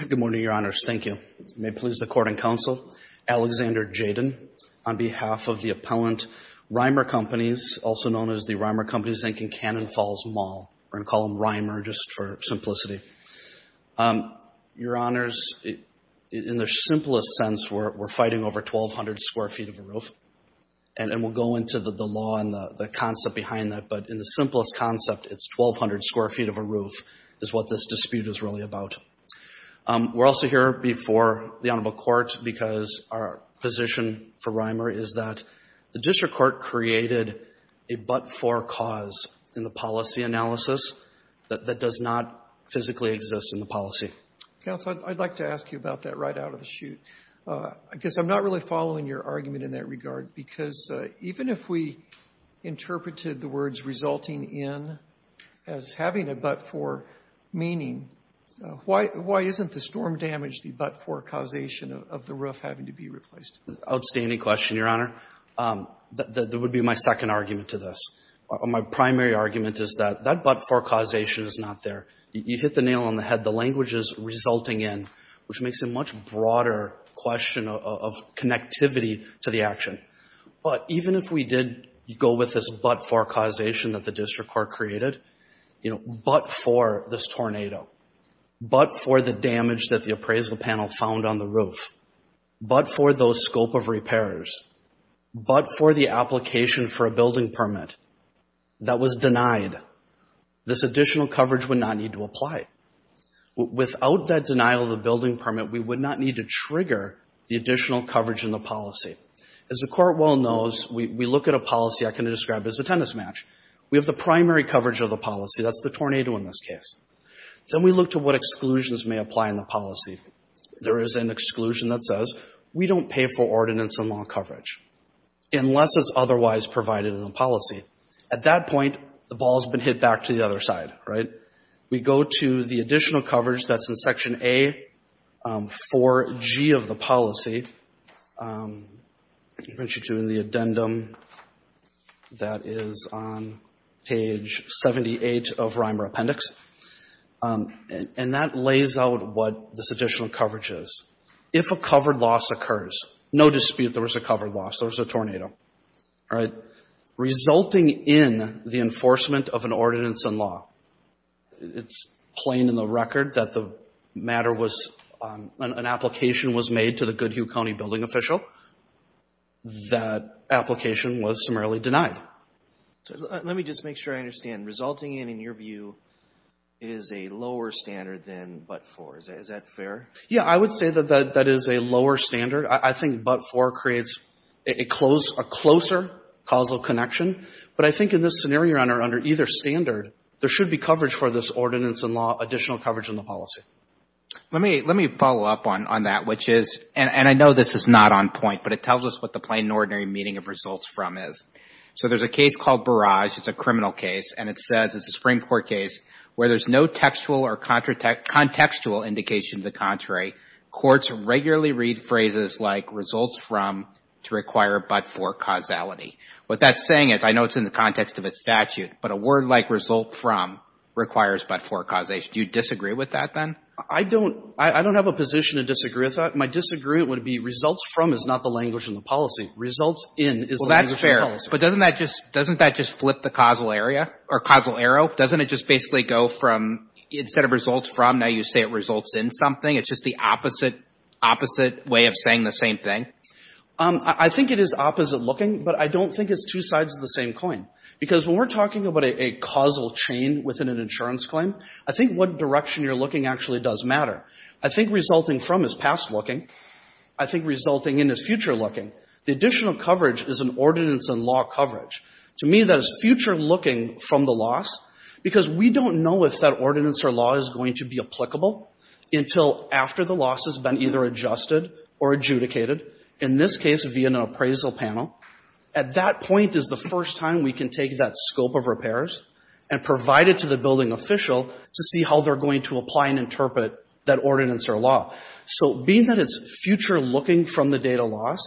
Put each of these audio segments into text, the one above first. Good morning, Your Honors. Thank you. May it please the Court and Counsel, Alexander Jayden, on behalf of the appellant, Rymer Companies, also known as the Rymer Companies Inc. in Cannon Falls Mall. We're going to call them Rymer just for simplicity. Your Honors, in the simplest sense, we're fighting over 1,200 square feet of a roof, and we'll go into the law and the concept behind that, but in the simplest concept, it's 1,200 square feet of a roof is what this dispute is really about. We're also here before the Honorable Court because our position for Rymer is that the District Court created a but-for cause in the policy analysis that does not physically exist in the policy. Counsel, I'd like to ask you about that right out of the chute. I guess I'm not really sure. Even if we interpreted the words resulting in as having a but-for meaning, why isn't the storm damage the but-for causation of the roof having to be replaced? Outstanding question, Your Honor. That would be my second argument to this. My primary argument is that that but-for causation is not there. You hit the nail on the head. The language is resulting in, which makes a much broader question of connectivity to the action. But even if we did go with this but-for causation that the District Court created, you know, but for this tornado, but for the damage that the appraisal panel found on the roof, but for those scope of repairs, but for the application for a building permit that was denied, this additional coverage would not need to apply. Without that denial of a building permit, we would not need to trigger the additional coverage in the policy. As the Court well knows, we look at a policy I can describe as a tennis match. We have the primary coverage of the policy. That's the tornado in this case. Then we look to what exclusions may apply in the policy. There is an exclusion that says we don't pay for ordinance or mall coverage unless it's otherwise provided in the policy. At that point, the ball has been hit back to the other side, right? We go to the additional coverage that's in Section A, 4G of the policy. I want you to do the addendum that is on page 78 of RIMER Appendix. And that lays out what this additional coverage is. If a covered loss occurs, no dispute there was a covered loss, there was a tornado, right? Resulting in the enforcement of an ordinance and law. It's plain in the record that an application was made to the Goodhue County Building Official. That application was summarily denied. Let me just make sure I understand. Resulting in, in your view, is a lower standard than but-for. Is that fair? Yeah, I would say that that is a lower standard. I think but-for creates a closer causal connection. But I think in this scenario under either standard, there should be coverage for this ordinance and law, additional coverage in the policy. Let me follow up on that, which is, and I know this is not on point, but it tells us what the plain and ordinary meaning of results from is. So there's a case called Barrage. It's a criminal case. And it says, it's a Supreme Court case where there's no textual or contextual indication to the contrary. Courts regularly read phrases like results from to require but-for causality. What that's saying is, I know it's in the context of its statute, but a word like result from requires but-for causation. Do you disagree with that then? I don't have a position to disagree with that. My disagreement would be results from is not the language in the policy. Results in is the language in the policy. Well, that's fair. But doesn't that just flip the causal area, or causal arrow? Doesn't it just basically go from, instead of results from, now you say it just the opposite way of saying the same thing? I think it is opposite looking, but I don't think it's two sides of the same coin. Because when we're talking about a causal chain within an insurance claim, I think what direction you're looking actually does matter. I think resulting from is past looking. I think resulting in is future looking. The additional coverage is an ordinance and law coverage. To me, that is future looking from the loss, because we don't know if that ordinance or law is going to be applicable until after the loss has been either adjusted or adjudicated, in this case via an appraisal panel. At that point is the first time we can take that scope of repairs and provide it to the building official to see how they're going to apply and interpret that ordinance or law. So being that it's future looking from the data loss,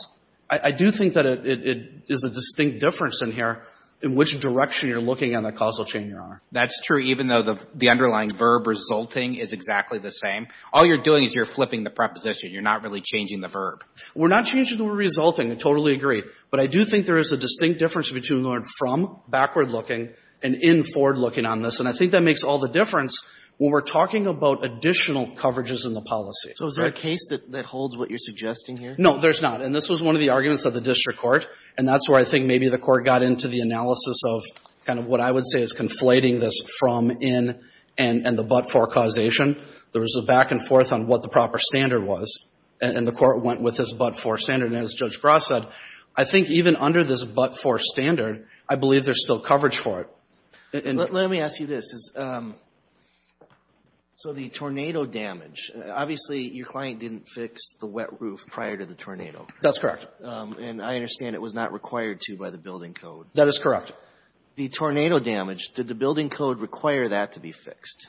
I do think that it is a distinct difference in here in which direction you're looking on the causal chain, Your Honor. That's true, even though the underlying verb resulting is exactly the same. All you're doing is you're flipping the preposition. You're not really changing the verb. We're not changing the resulting. I totally agree. But I do think there is a distinct difference between going from, backward looking, and in, forward looking on this. And I think that makes all the difference when we're talking about additional coverages in the policy. So is there a case that holds what you're suggesting here? No, there's not. And this was one of the arguments of the district court. And that's where I think maybe the court got into the analysis of kind of what I would say is conflating this from, in, and the but-for causation. There was a back and forth on what the proper standard was. And the court went with this but-for standard. And as Judge Bras said, I think even under this but-for standard, I believe there's still coverage for it. Let me ask you this. So the tornado damage, obviously your client didn't fix the wet roof prior to the tornado. That's correct. And I understand it was not required to by the building code. That is correct. The tornado damage, did the building code require that to be fixed?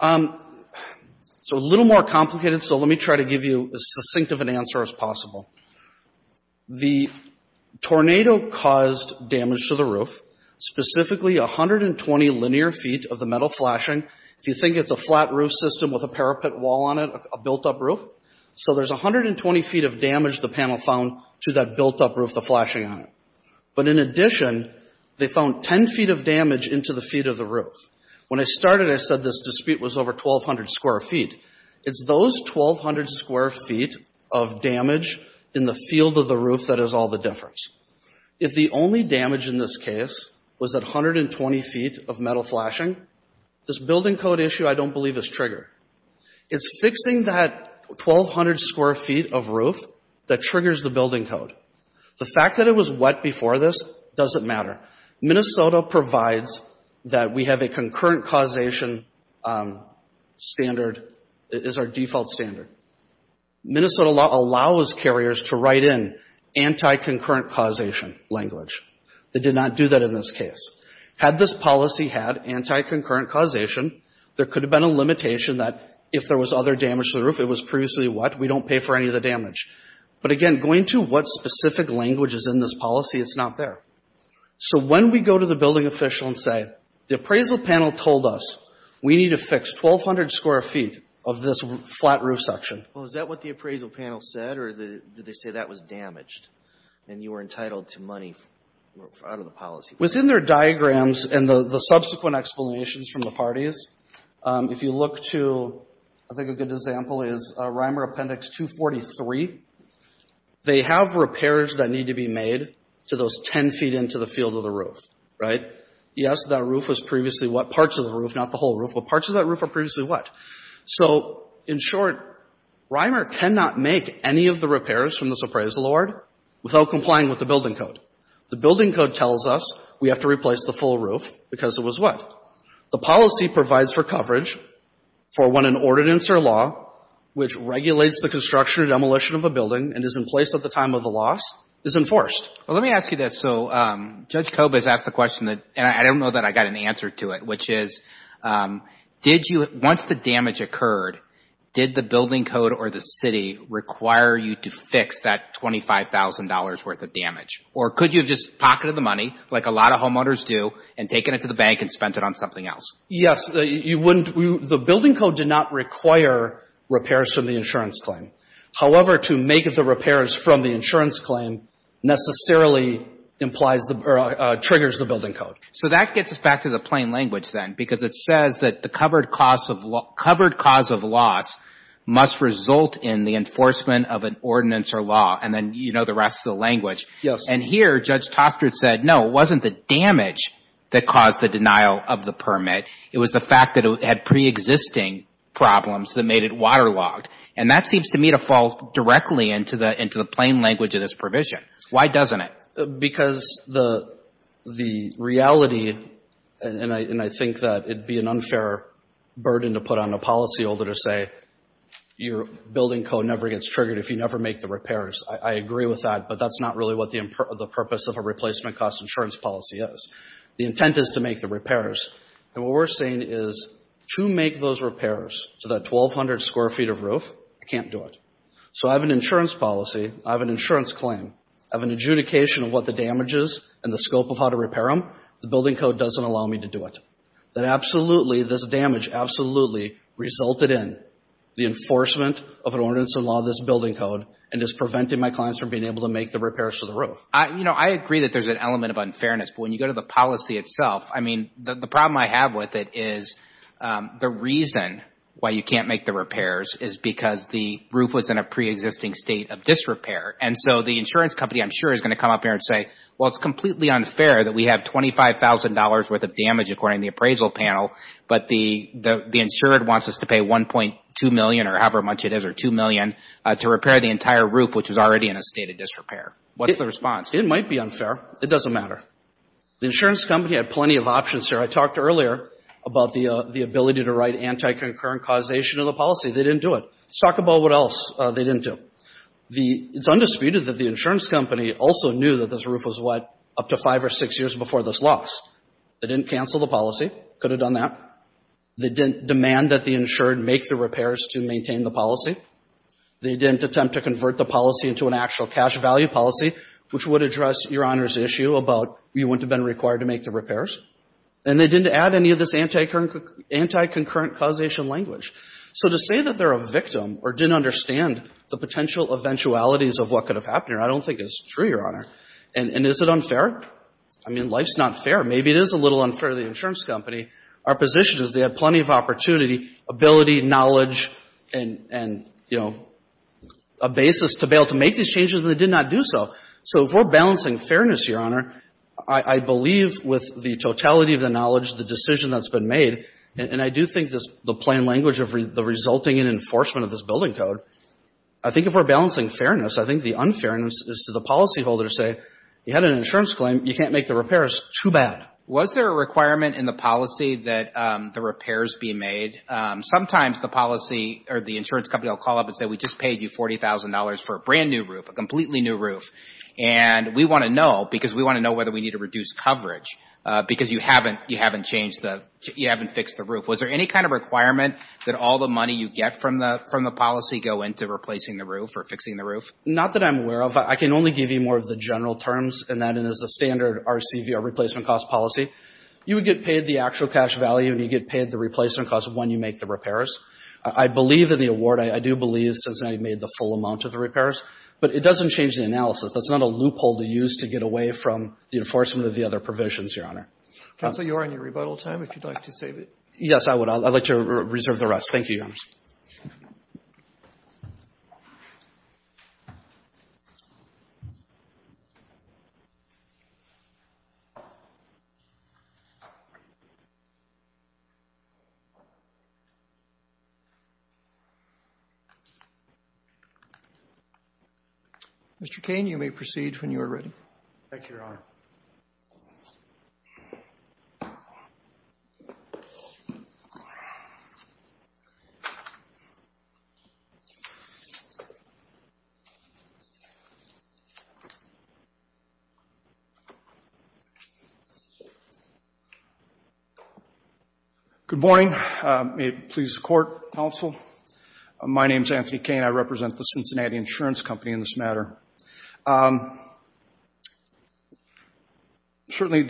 It's a little more complicated. So let me try to give you as succinct of an answer as possible. The tornado caused damage to the roof, specifically 120 linear feet of the metal flashing. If you think it's a flat roof system with a parapet wall on it, a built-up roof. So there's 120 feet of damage the panel found to that built-up roof, the flashing on it. But in addition, they found 10 feet of damage into the feet of the roof. When I started, I said this dispute was over 1,200 square feet. It's those 1,200 square feet of damage in the field of the roof that is all the difference. If the only damage in this case was that 120 feet of metal flashing, this building code issue I don't believe is triggered. It's fixing that 1,200 square feet of roof that triggers the building code. The fact that it was wet before this doesn't matter. Minnesota provides that we have a concurrent causation standard, is our default standard. Minnesota law allows carriers to write in anti-concurrent causation language. They did not do that in this case. Had this policy had anti-concurrent causation, there could have been a limitation that if there was other damage to the roof, it was previously what? We don't pay for any of the damage. But again, going to what specific language is in this policy, it's not there. So when we go to the building official and say, the appraisal panel told us we need to fix 1,200 square feet of this flat roof section. Well, is that what the appraisal panel said or did they say that was damaged and you were entitled to money out of the policy? Within their diagrams and the subsequent explanations from the parties, if you look to, I think a good example is RIMER Appendix 243, they have repairs that need to be made to those 10 feet into the field of the roof, right? Yes, that roof was previously what? Parts of the roof, not the whole roof. But parts of that roof were previously what? So in short, RIMER cannot make any of the repairs from this appraisal award without complying with the building code. The building code tells us we have to replace the full roof because it was what? The policy provides for coverage for when an ordinance or law, which regulates the construction or demolition of a building and is in place at the time of the loss, is enforced. Well, let me ask you this. So Judge Kobe has asked the question that, and I don't know that I got an answer to it, which is, did you, once the damage occurred, did the building code or the city require you to fix that $25,000 worth of damage? Or could you have just pocketed the money, like a lot of homeowners do, and taken it to the bank and spent it on something else? Yes, you wouldn't, the building code did not require repairs from the insurance claim. However, to make the repairs from the insurance claim necessarily implies the, or triggers the building code. So that gets us back to the plain language then, because it says that the covered cause of loss must result in the enforcement of an ordinance or law, and then, you know, the rest of the language. Yes. And here, Judge Tostred said, no, it wasn't the damage that caused the denial of the permit. It was the fact that it had preexisting problems that made it waterlogged. And that seems to me to fall directly into the plain language of this provision. Why doesn't it? Because the reality, and I think that it'd be an unfair burden to put on a policy holder to say, your building code never gets triggered if you never make the repairs. I agree with that. But that's not really what the purpose of a replacement cost insurance policy is. The intent is to make the repairs. And what we're saying is, to make those repairs to that 1,200 square feet of roof, I can't do it. So I have an insurance policy, I have an insurance claim, I have an adjudication of what the damage is and the scope of how to repair them. The building code doesn't allow me to do it. That absolutely, this damage absolutely resulted in the enforcement of an ordinance and law of this building code and is preventing my clients from being able to make the repairs to the roof. I, you know, I agree that there's an element of unfairness. But when you go to the policy itself, I mean, the problem I have with it is the reason why you can't make the repairs is because the roof was in a preexisting state of disrepair. And so the insurance company, I'm sure, is going to come up here and say, well, it's completely unfair that we have $25,000 worth of damage according to the appraisal panel, but the insured wants us to pay $1.2 million or however much it is or $2 million to repair the entire roof, which is already in a state of disrepair. What's the response? It might be unfair. It doesn't matter. The insurance company had plenty of options here. I talked earlier about the ability to write anti-concurrent causation of the policy. They didn't do it. Let's talk about what else they didn't do. It's undisputed that the insurance company also knew that this roof was, what, up to five or six years before this loss. They didn't cancel the policy. Could have done that. They didn't demand that the insured make the repairs to maintain the policy. They didn't attempt to convert the policy into an actual cash value policy, which would address Your Honor's issue about you wouldn't have been required to make the repairs. And they didn't add any of this anti-concurrent causation language. So to say that they're a victim or didn't understand the potential eventualities of what could have happened here, I don't think is true, Your Honor. And is it unfair? I mean, life's not fair. Maybe it is a little unfair to the insurance company. Our position is they had plenty of opportunity, ability, knowledge, and, you know, a basis to be able to make these changes, and they did not do so. So if we're balancing fairness, Your Honor, I believe with the totality of the knowledge, the decision that's been made, and I do think the plain language of the resulting in enforcement of this building code, I think if we're balancing fairness, I think the unfairness is to the policyholder to say, you had an insurance claim. You can't make the repairs. Too bad. Was there a requirement in the policy that the repairs be made? Sometimes the policy or the insurance company will call up and say, we just paid you $40,000 for a brand new roof, a completely new roof. And we want to know because we want to know whether we need to reduce coverage because you haven't, you haven't changed the, you haven't fixed the roof. Was there any kind of requirement that all the money you get from the, from the policy go into replacing the roof or fixing the roof? Not that I'm aware of. I can only give you more of the general terms in that it is a standard RCV, our replacement cost policy. You would get paid the actual cash value and you get paid the replacement cost when you make the repairs. I believe in the award. I do believe since I made the full amount of the repairs, but it doesn't change the analysis. That's not a loophole to use to get away from the enforcement of the other provisions. Counsel, you are on your rebuttal time. If you'd like to save it. Yes, I would. I'd like to reserve the rest. Thank you, Your Honor. Mr. Kane, you may proceed when you are ready. Thank you, Your Honor. Good morning. May it please the court, counsel. My name is Anthony Kane. I represent the Cincinnati Insurance Company in this matter. Certainly,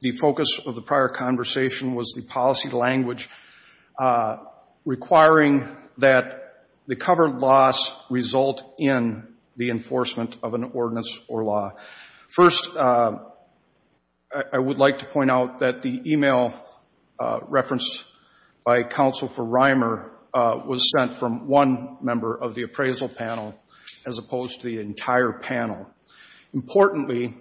the focus of the prior conversation was the policy language requiring that the covered loss result in the enforcement of an ordinance or law. First, I would like to point out that the email referenced by counsel for Reimer was sent from one member of the appraisal panel as opposed to the entire panel. Importantly,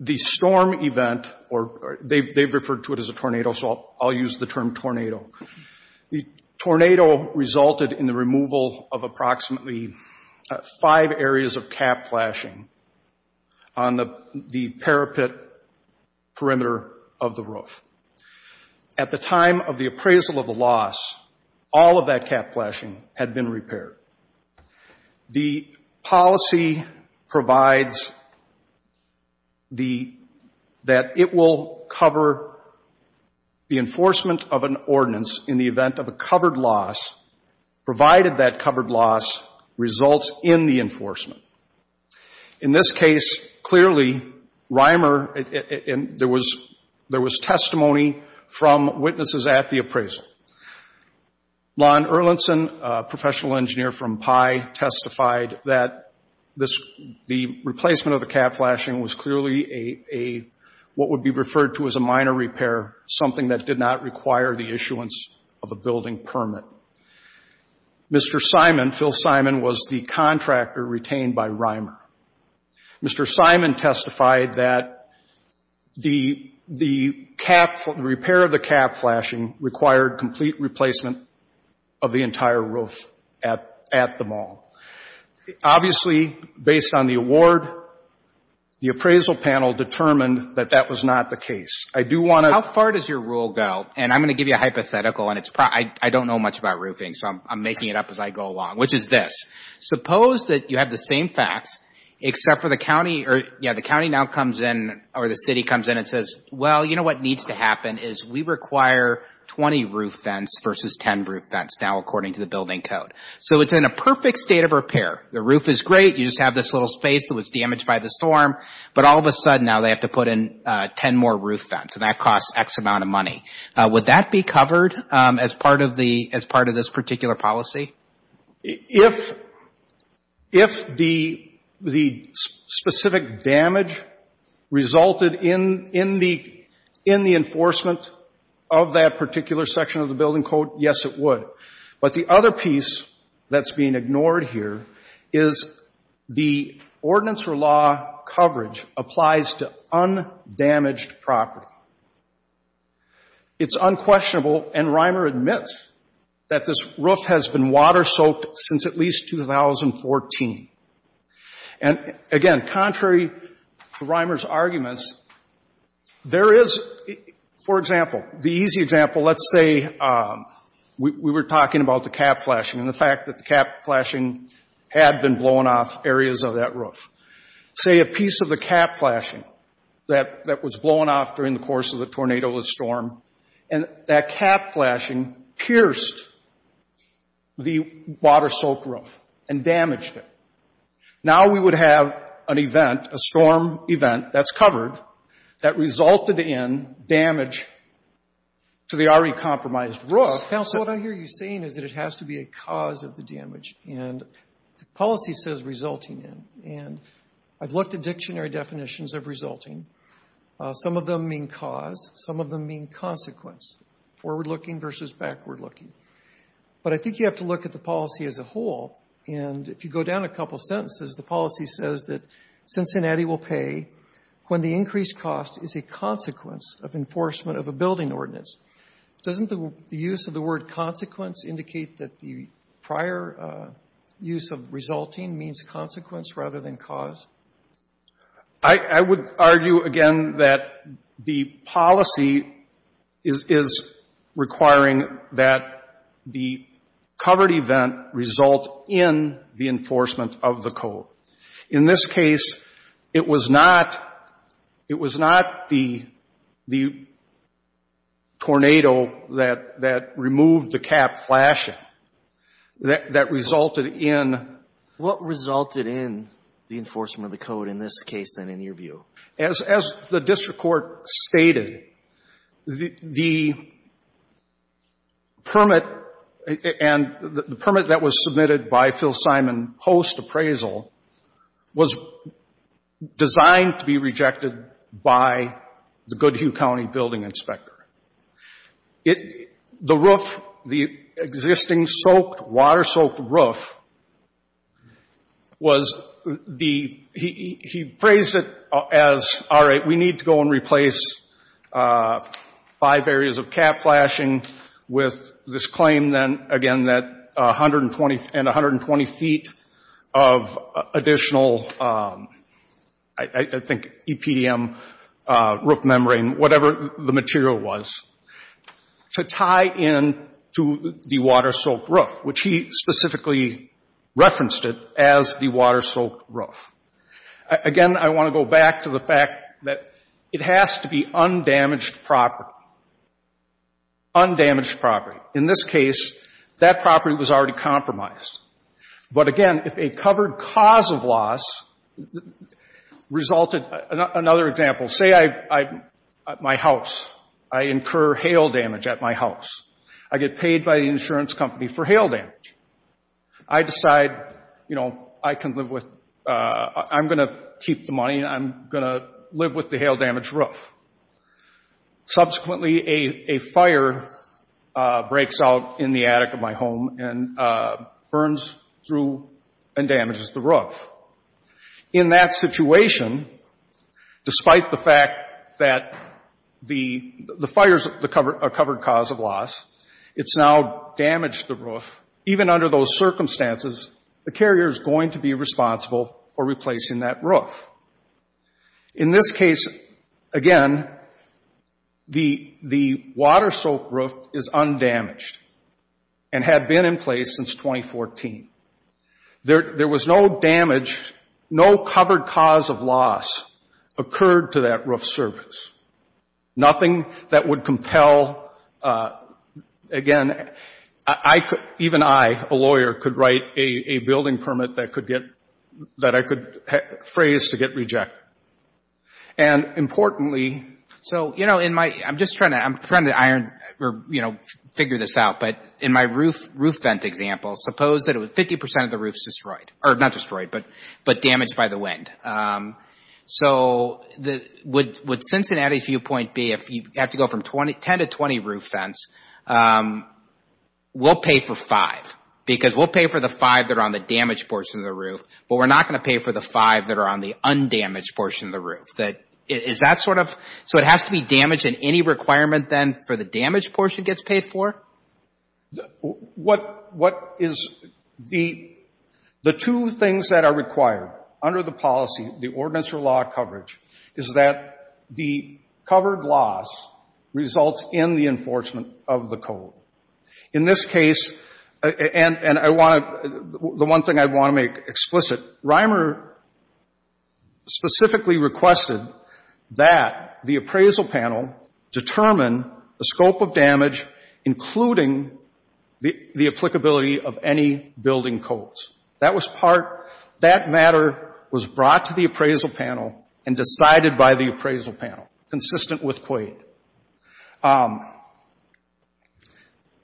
the storm event or they've referred to it as a tornado. So I'll use the term tornado. The tornado resulted in the removal of approximately five areas of cap flashing on the parapet perimeter of the roof. At the time of the appraisal of the loss, all of that cap flashing had been repaired. The policy provides that it will cover the enforcement of an ordinance in the event of a covered loss, provided that covered loss results in the enforcement. In this case, clearly, Reimer, there was testimony from witnesses at the appraisal. Lon Erlinson, a professional engineer from PI, testified that the replacement of the cap flashing was clearly what would be referred to as a minor repair, something that did not require the issuance of a building permit. However, Mr. Simon, Phil Simon, was the contractor retained by Reimer. Mr. Simon testified that the repair of the cap flashing required complete replacement of the entire roof at the mall. Obviously, based on the award, the appraisal panel determined that that was not the case. I do want to... How far does your rule go? I'm going to give you a hypothetical. I don't know much about roofing, so I'm making it up as I go along, which is this. Suppose that you have the same facts, except for the county now comes in, or the city comes in and says, well, you know what needs to happen is we require 20 roof vents versus 10 roof vents now, according to the building code. It's in a perfect state of repair. The roof is great. You just have this little space that was damaged by the storm, but all of a sudden now they have to put in 10 more roof vents, and that costs X amount of money. Would that be covered as part of this particular policy? If the specific damage resulted in the enforcement of that particular section of the building code, yes, it would. But the other piece that's being ignored here is the ordinance or law coverage applies to undamaged property. It's unquestionable, and Reimer admits that this roof has been water soaked since at least 2014. And again, contrary to Reimer's arguments, there is, for example, the easy example, let's say we were talking about the cap flashing and the fact that the cap flashing had been blown off areas of that roof. Say a piece of the cap flashing that was blown off during the course of the tornado, the storm, and that cap flashing pierced the water soaked roof and damaged it. Now we would have an event, a storm event that's covered that resulted in damage to the already compromised roof. Counsel, what I hear you saying is that it has to be a cause of the damage, and the policy says resulting in. And I've looked at dictionary definitions of resulting. Some of them mean cause. Some of them mean consequence, forward looking versus backward looking. But I think you have to look at the policy as a whole, and if you go down a couple sentences, the policy says that Cincinnati will pay when the increased cost is a consequence of enforcement of a building ordinance. Doesn't the use of the word consequence indicate that the prior use of resulting means consequence rather than cause? I would argue again that the policy is requiring that the covered event result in the enforcement of the code. In this case, it was not the tornado that removed the cap flashing that resulted in. What resulted in the enforcement of the code in this case, then, in your view? As the district court stated, the permit and the permit that was submitted by Phil Simon post appraisal was designed to be rejected by the Goodhue County building inspector. The roof, the existing soaked, water soaked roof, was the, he phrased it as, all right, we need to go and replace five areas of cap flashing with this claim, then, again, that 120 feet of additional, I think, EPDM roof membrane, whatever the material was. To tie in to the water soaked roof, which he specifically referenced it as the water soaked roof. Again, I want to go back to the fact that it has to be undamaged property. Undamaged property. In this case, that property was already compromised. But again, if a covered cause of loss resulted, another example, say I, my house, I incur hail damage at my house. I get paid by the insurance company for hail damage. I decide, you know, I can live with, I'm going to keep the money and I'm going to live with the hail damage roof. Subsequently, a fire breaks out in the attic of my home and burns through and damages the roof. In that situation, despite the fact that the fires are covered cause of loss, it's now damaged the roof. Even under those circumstances, the carrier is going to be responsible for replacing that roof. In this case, again, the water soaked roof is undamaged and had been in place since 2014. There was no damage, no covered cause of loss occurred to that roof surface. Nothing that would compel, again, I could, even I, a lawyer, could write a building permit that could get, that I could phrase to get rejected. And importantly, so, you know, in my, I'm just trying to, I'm trying to iron, you know, figure this out, but in my roof vent example, suppose that 50% of the roof is destroyed, or not destroyed, but damaged by the wind. So, would Cincinnati's viewpoint be if you have to go from 10 to 20 roof vents, we'll pay for five. Because we'll pay for the five that are on the damaged portion of the roof, but we're not going to pay for the five that are on the undamaged portion of the roof. That, is that sort of, so it has to be damaged and any requirement then for the damaged portion gets paid for? What, what is the, the two things that are required under the policy, the ordinance or law coverage, is that the covered loss results in the enforcement of the code. In this case, and I want to, the one thing I want to make explicit, Reimer specifically requested that the appraisal panel determine the scope of damage, including the applicability of any building codes. That was part, that matter was brought to the appraisal panel and decided by the appraisal panel, consistent with Quade.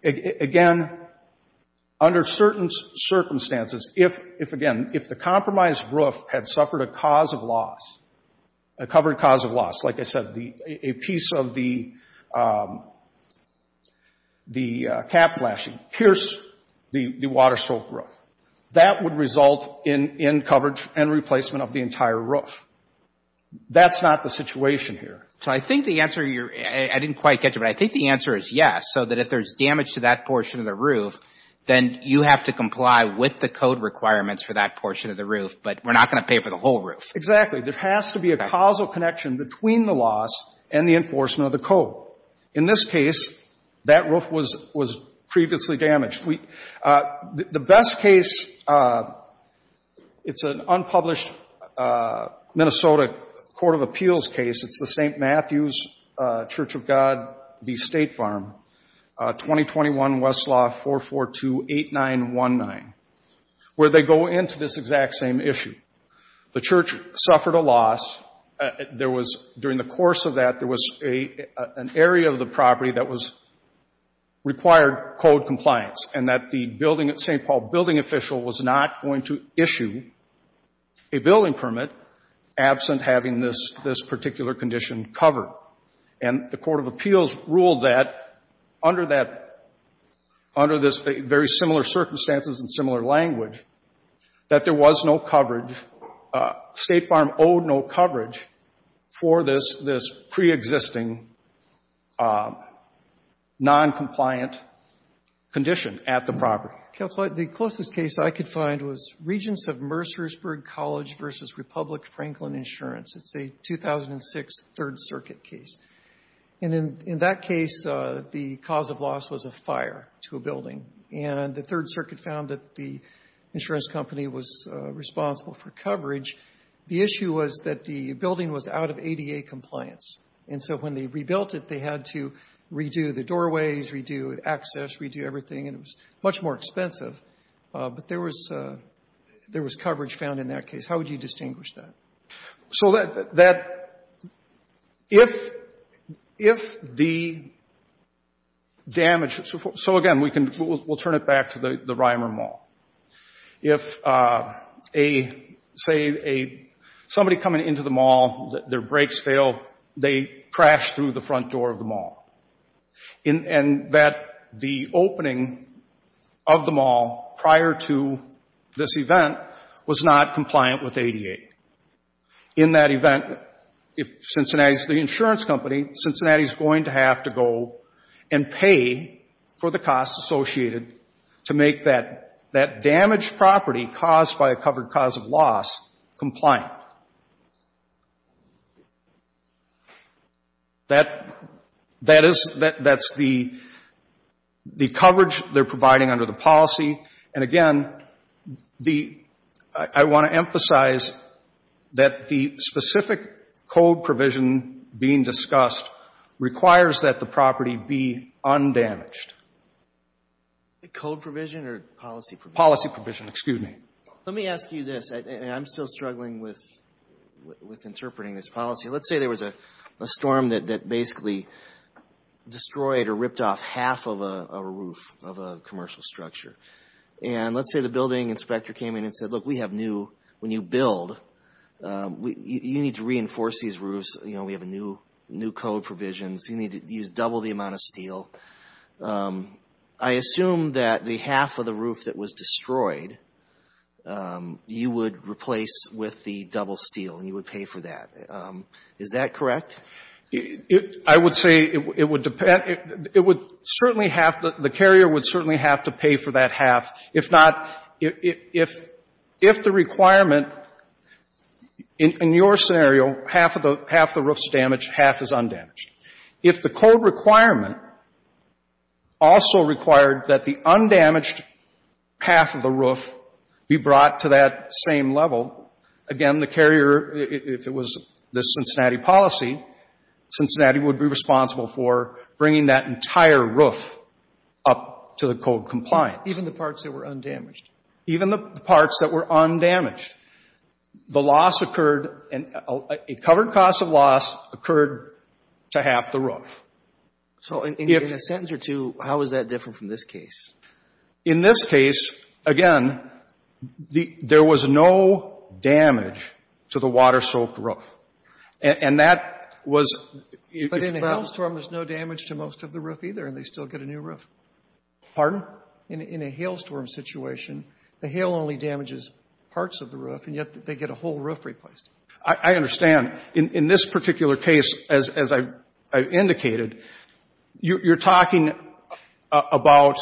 Again, under certain circumstances, if, if again, if the compromised roof had suffered a cause of loss, a covered cause of loss, like I said, the, a piece of the, the cap flashing, pierced the, the water-soaked roof. That would result in, in coverage and replacement of the entire roof. That's not the situation here. So, I think the answer you're, I didn't quite catch it, but I think the answer is yes, so that if there's damage to that portion of the roof, then you have to comply with the code requirements for that portion of the roof. But we're not going to pay for the whole roof. Exactly. There has to be a causal connection between the loss and the enforcement of the code. In this case, that roof was, was previously damaged. We, the best case, it's an unpublished Minnesota Court of Appeals case. It's the St. Matthew's Church of God v. State Farm, 2021 Westlaw 442-8919, where they go into this exact same issue. The church suffered a loss. There was, during the course of that, there was a, an area of the property that was required code compliance and that the building, St. Paul building official was not going to issue a building permit absent having this, this particular condition covered. And the Court of Appeals ruled that under that, under this very similar circumstances and similar language, that there was no coverage. State Farm owed no coverage for this, this preexisting noncompliant condition at the property. Counselor, the closest case I could find was Regents of Mercersburg College v. Republic Franklin Insurance. It's a 2006 Third Circuit case. And in, in that case, the cause of loss was a fire to a building. And the Third Circuit found that the insurance company was responsible for coverage. The issue was that the building was out of ADA compliance. And so when they rebuilt it, they had to redo the doorways, redo access, redo everything, and it was much more expensive. But there was, there was coverage found in that case. How would you distinguish that? So that, that, if, if the damage, so, so again, we can, we'll turn it back to the, the Reimer Mall. If a, say a, somebody coming into the mall, their brakes fail, they crash through the front door of the mall, and, and that the opening of the mall prior to this event was not compliant with ADA. In that event, if Cincinnati's the insurance company, Cincinnati's going to have to go and pay for the costs associated to make that, that damaged property caused by a covered cause of loss compliant. That, that is, that, that's the, the coverage they're providing under the policy. And again, the, I, I want to emphasize that the specific code provision being discussed requires that the property be undamaged. The code provision or policy provision? Policy provision, excuse me. Let me ask you this, and I'm still struggling with, with interpreting this policy. Let's say there was a, a storm that, that basically destroyed or ripped off half of a, a roof of a commercial structure. And let's say the building inspector came in and said, look, we have new, when you build, you need to reinforce these roofs. You know, we have a new, new code provisions. You need to use double the amount of steel. I assume that the half of the roof that was destroyed, you would replace with the double steel, and you would pay for that. Is that correct? I would say it would depend, it would certainly have, the carrier would certainly have to pay for that half. If not, if, if, if the requirement, in, in your scenario, half of the, half the roof's damaged, half is undamaged. If the code requirement also required that the undamaged half of the roof be brought to that same level, again, the carrier, if it was the Cincinnati policy, Cincinnati would be responsible for bringing that entire roof up to the code compliance. Even the parts that were undamaged? Even the parts that were undamaged. The loss occurred, a covered cost of loss occurred to half the roof. So in, in a sentence or two, how is that different from this case? In this case, again, the, there was no damage to the water-soaked roof. And, and that was. But in a hailstorm, there's no damage to most of the roof either, and they still get a new roof. Pardon? In, in a hailstorm situation, the hail only damages parts of the roof, and yet they get a whole roof replaced. I, I understand. In, in this particular case, as, as I've, I've indicated, you, you're talking about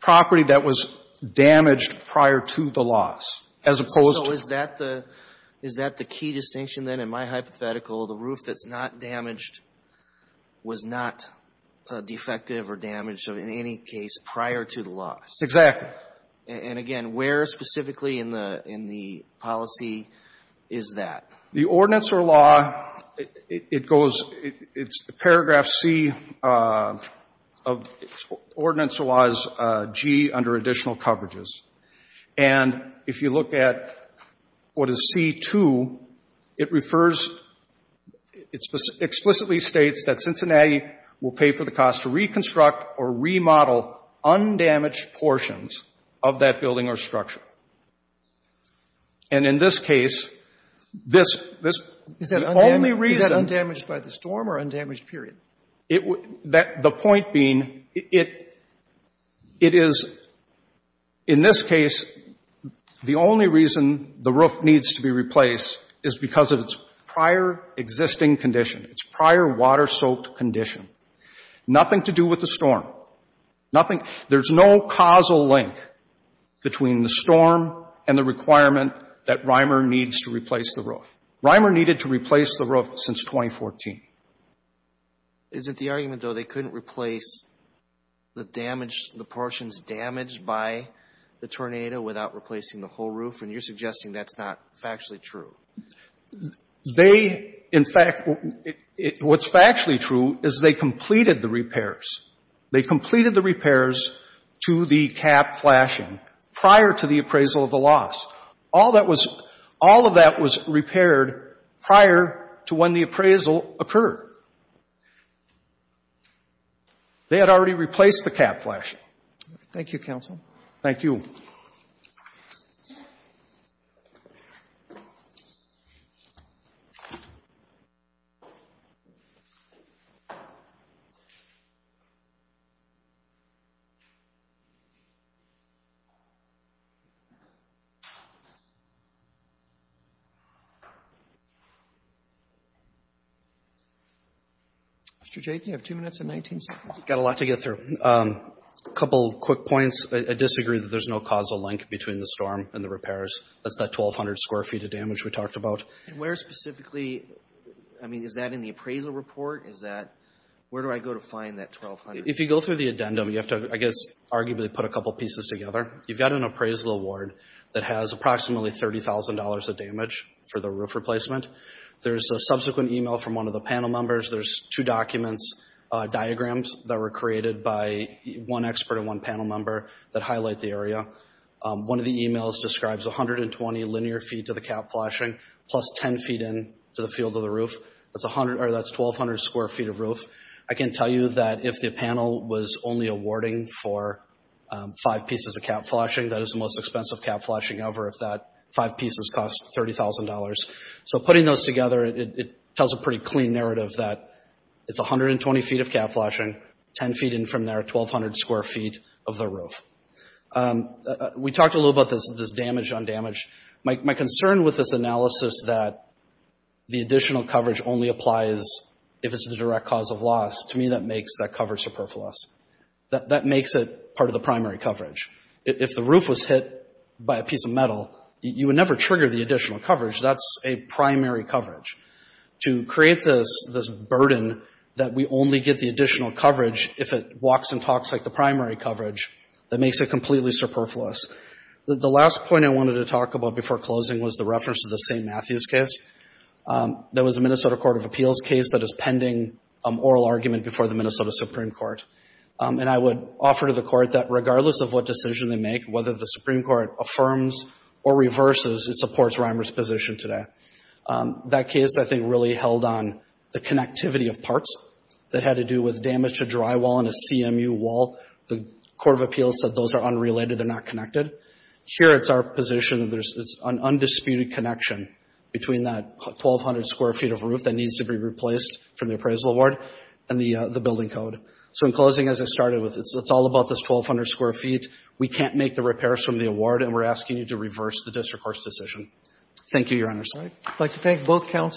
property that was damaged prior to the loss, as opposed to. Is that the, is that the key distinction then? In my hypothetical, the roof that's not damaged was not defective or damaged in any case prior to the loss. Exactly. And again, where specifically in the, in the policy is that? The ordinance or law, it, it goes, it, it's paragraph C of, ordinance was G under additional coverages. And if you look at what is C2, it refers, it explicitly states that Cincinnati will pay for the cost to reconstruct or remodel undamaged portions of that building or structure. And in this case, this, this. Is that undamaged? The only reason. Is that undamaged by the storm or undamaged period? It, that, the point being, it, it is, in this case, the only reason the roof needs to be replaced is because of its prior existing condition, its prior water-soaked condition. Nothing to do with the storm. Nothing, there's no causal link between the storm and the requirement that RIMER needs to replace the roof. RIMER needed to replace the roof since 2014. Is it the argument, though, they couldn't replace the damage, the portions damaged by the tornado without replacing the whole roof? And you're suggesting that's not factually true? They, in fact, what's factually true is they completed the repairs. They completed the repairs to the cap flashing prior to the appraisal of the loss. All that was, all of that was repaired prior to when the appraisal occurred. They had already replaced the cap flashing. Thank you, counsel. Thank you. Mr. J., do you have two minutes and 19 seconds? I've got a lot to get through. A couple quick points. I disagree that there's no causal link between the storm and the repairs. That's that 1,200 square feet of damage we talked about. And where specifically, I mean, is that in the appraisal report? Is that, where do I go to find that 1,200? If you go through the addendum, you have to, I guess, arguably put a couple pieces together. You've got an appraisal award that has approximately $30,000 of damage for the roof replacement. There's a subsequent email from one of the panel members. There's two documents, diagrams that were created by one expert and one panel member that highlight the area. One of the emails describes 120 linear feet to the cap flashing, plus 10 feet in to the field of the roof. That's 1,200, or that's 1,200 square feet of roof. I can tell you that if the panel was only awarding for five pieces of cap flashing, that is the most expensive cap flashing ever if that five pieces cost $30,000. So putting those together, it tells a pretty clean narrative that it's 120 feet of cap flashing, 10 feet in from there, 1,200 square feet of the roof. We talked a little about this damage on damage. My concern with this analysis that the additional coverage only applies if it's a direct cause of loss, to me that makes that cover superfluous. That makes it part of the primary coverage. If the roof was hit by a piece of metal, you would never trigger the additional coverage. That's a primary coverage. To create this burden that we only get the additional coverage if it walks and talks like the primary coverage, that makes it completely superfluous. The last point I wanted to talk about before closing was the reference to the St. Matthews case. There was a Minnesota Court of Appeals case that is pending oral argument before the Minnesota Supreme Court. And I would offer to the court that regardless of what decision they make, whether the Supreme Court affirms or reverses, it supports Reimer's position today. That case, I think, really held on the connectivity of parts that had to do with damage to drywall and a CMU wall. The Court of Appeals said those are unrelated, they're not connected. Here, it's our position that there's an undisputed connection between that 1,200 square feet of roof that needs to be replaced from the appraisal award and the building code. So in closing, as I started with, it's all about this 1,200 square feet. We can't make the repairs from the award, and we're asking you to reverse the district court's decision. Thank you, Your Honor. I'd like to thank both counsel.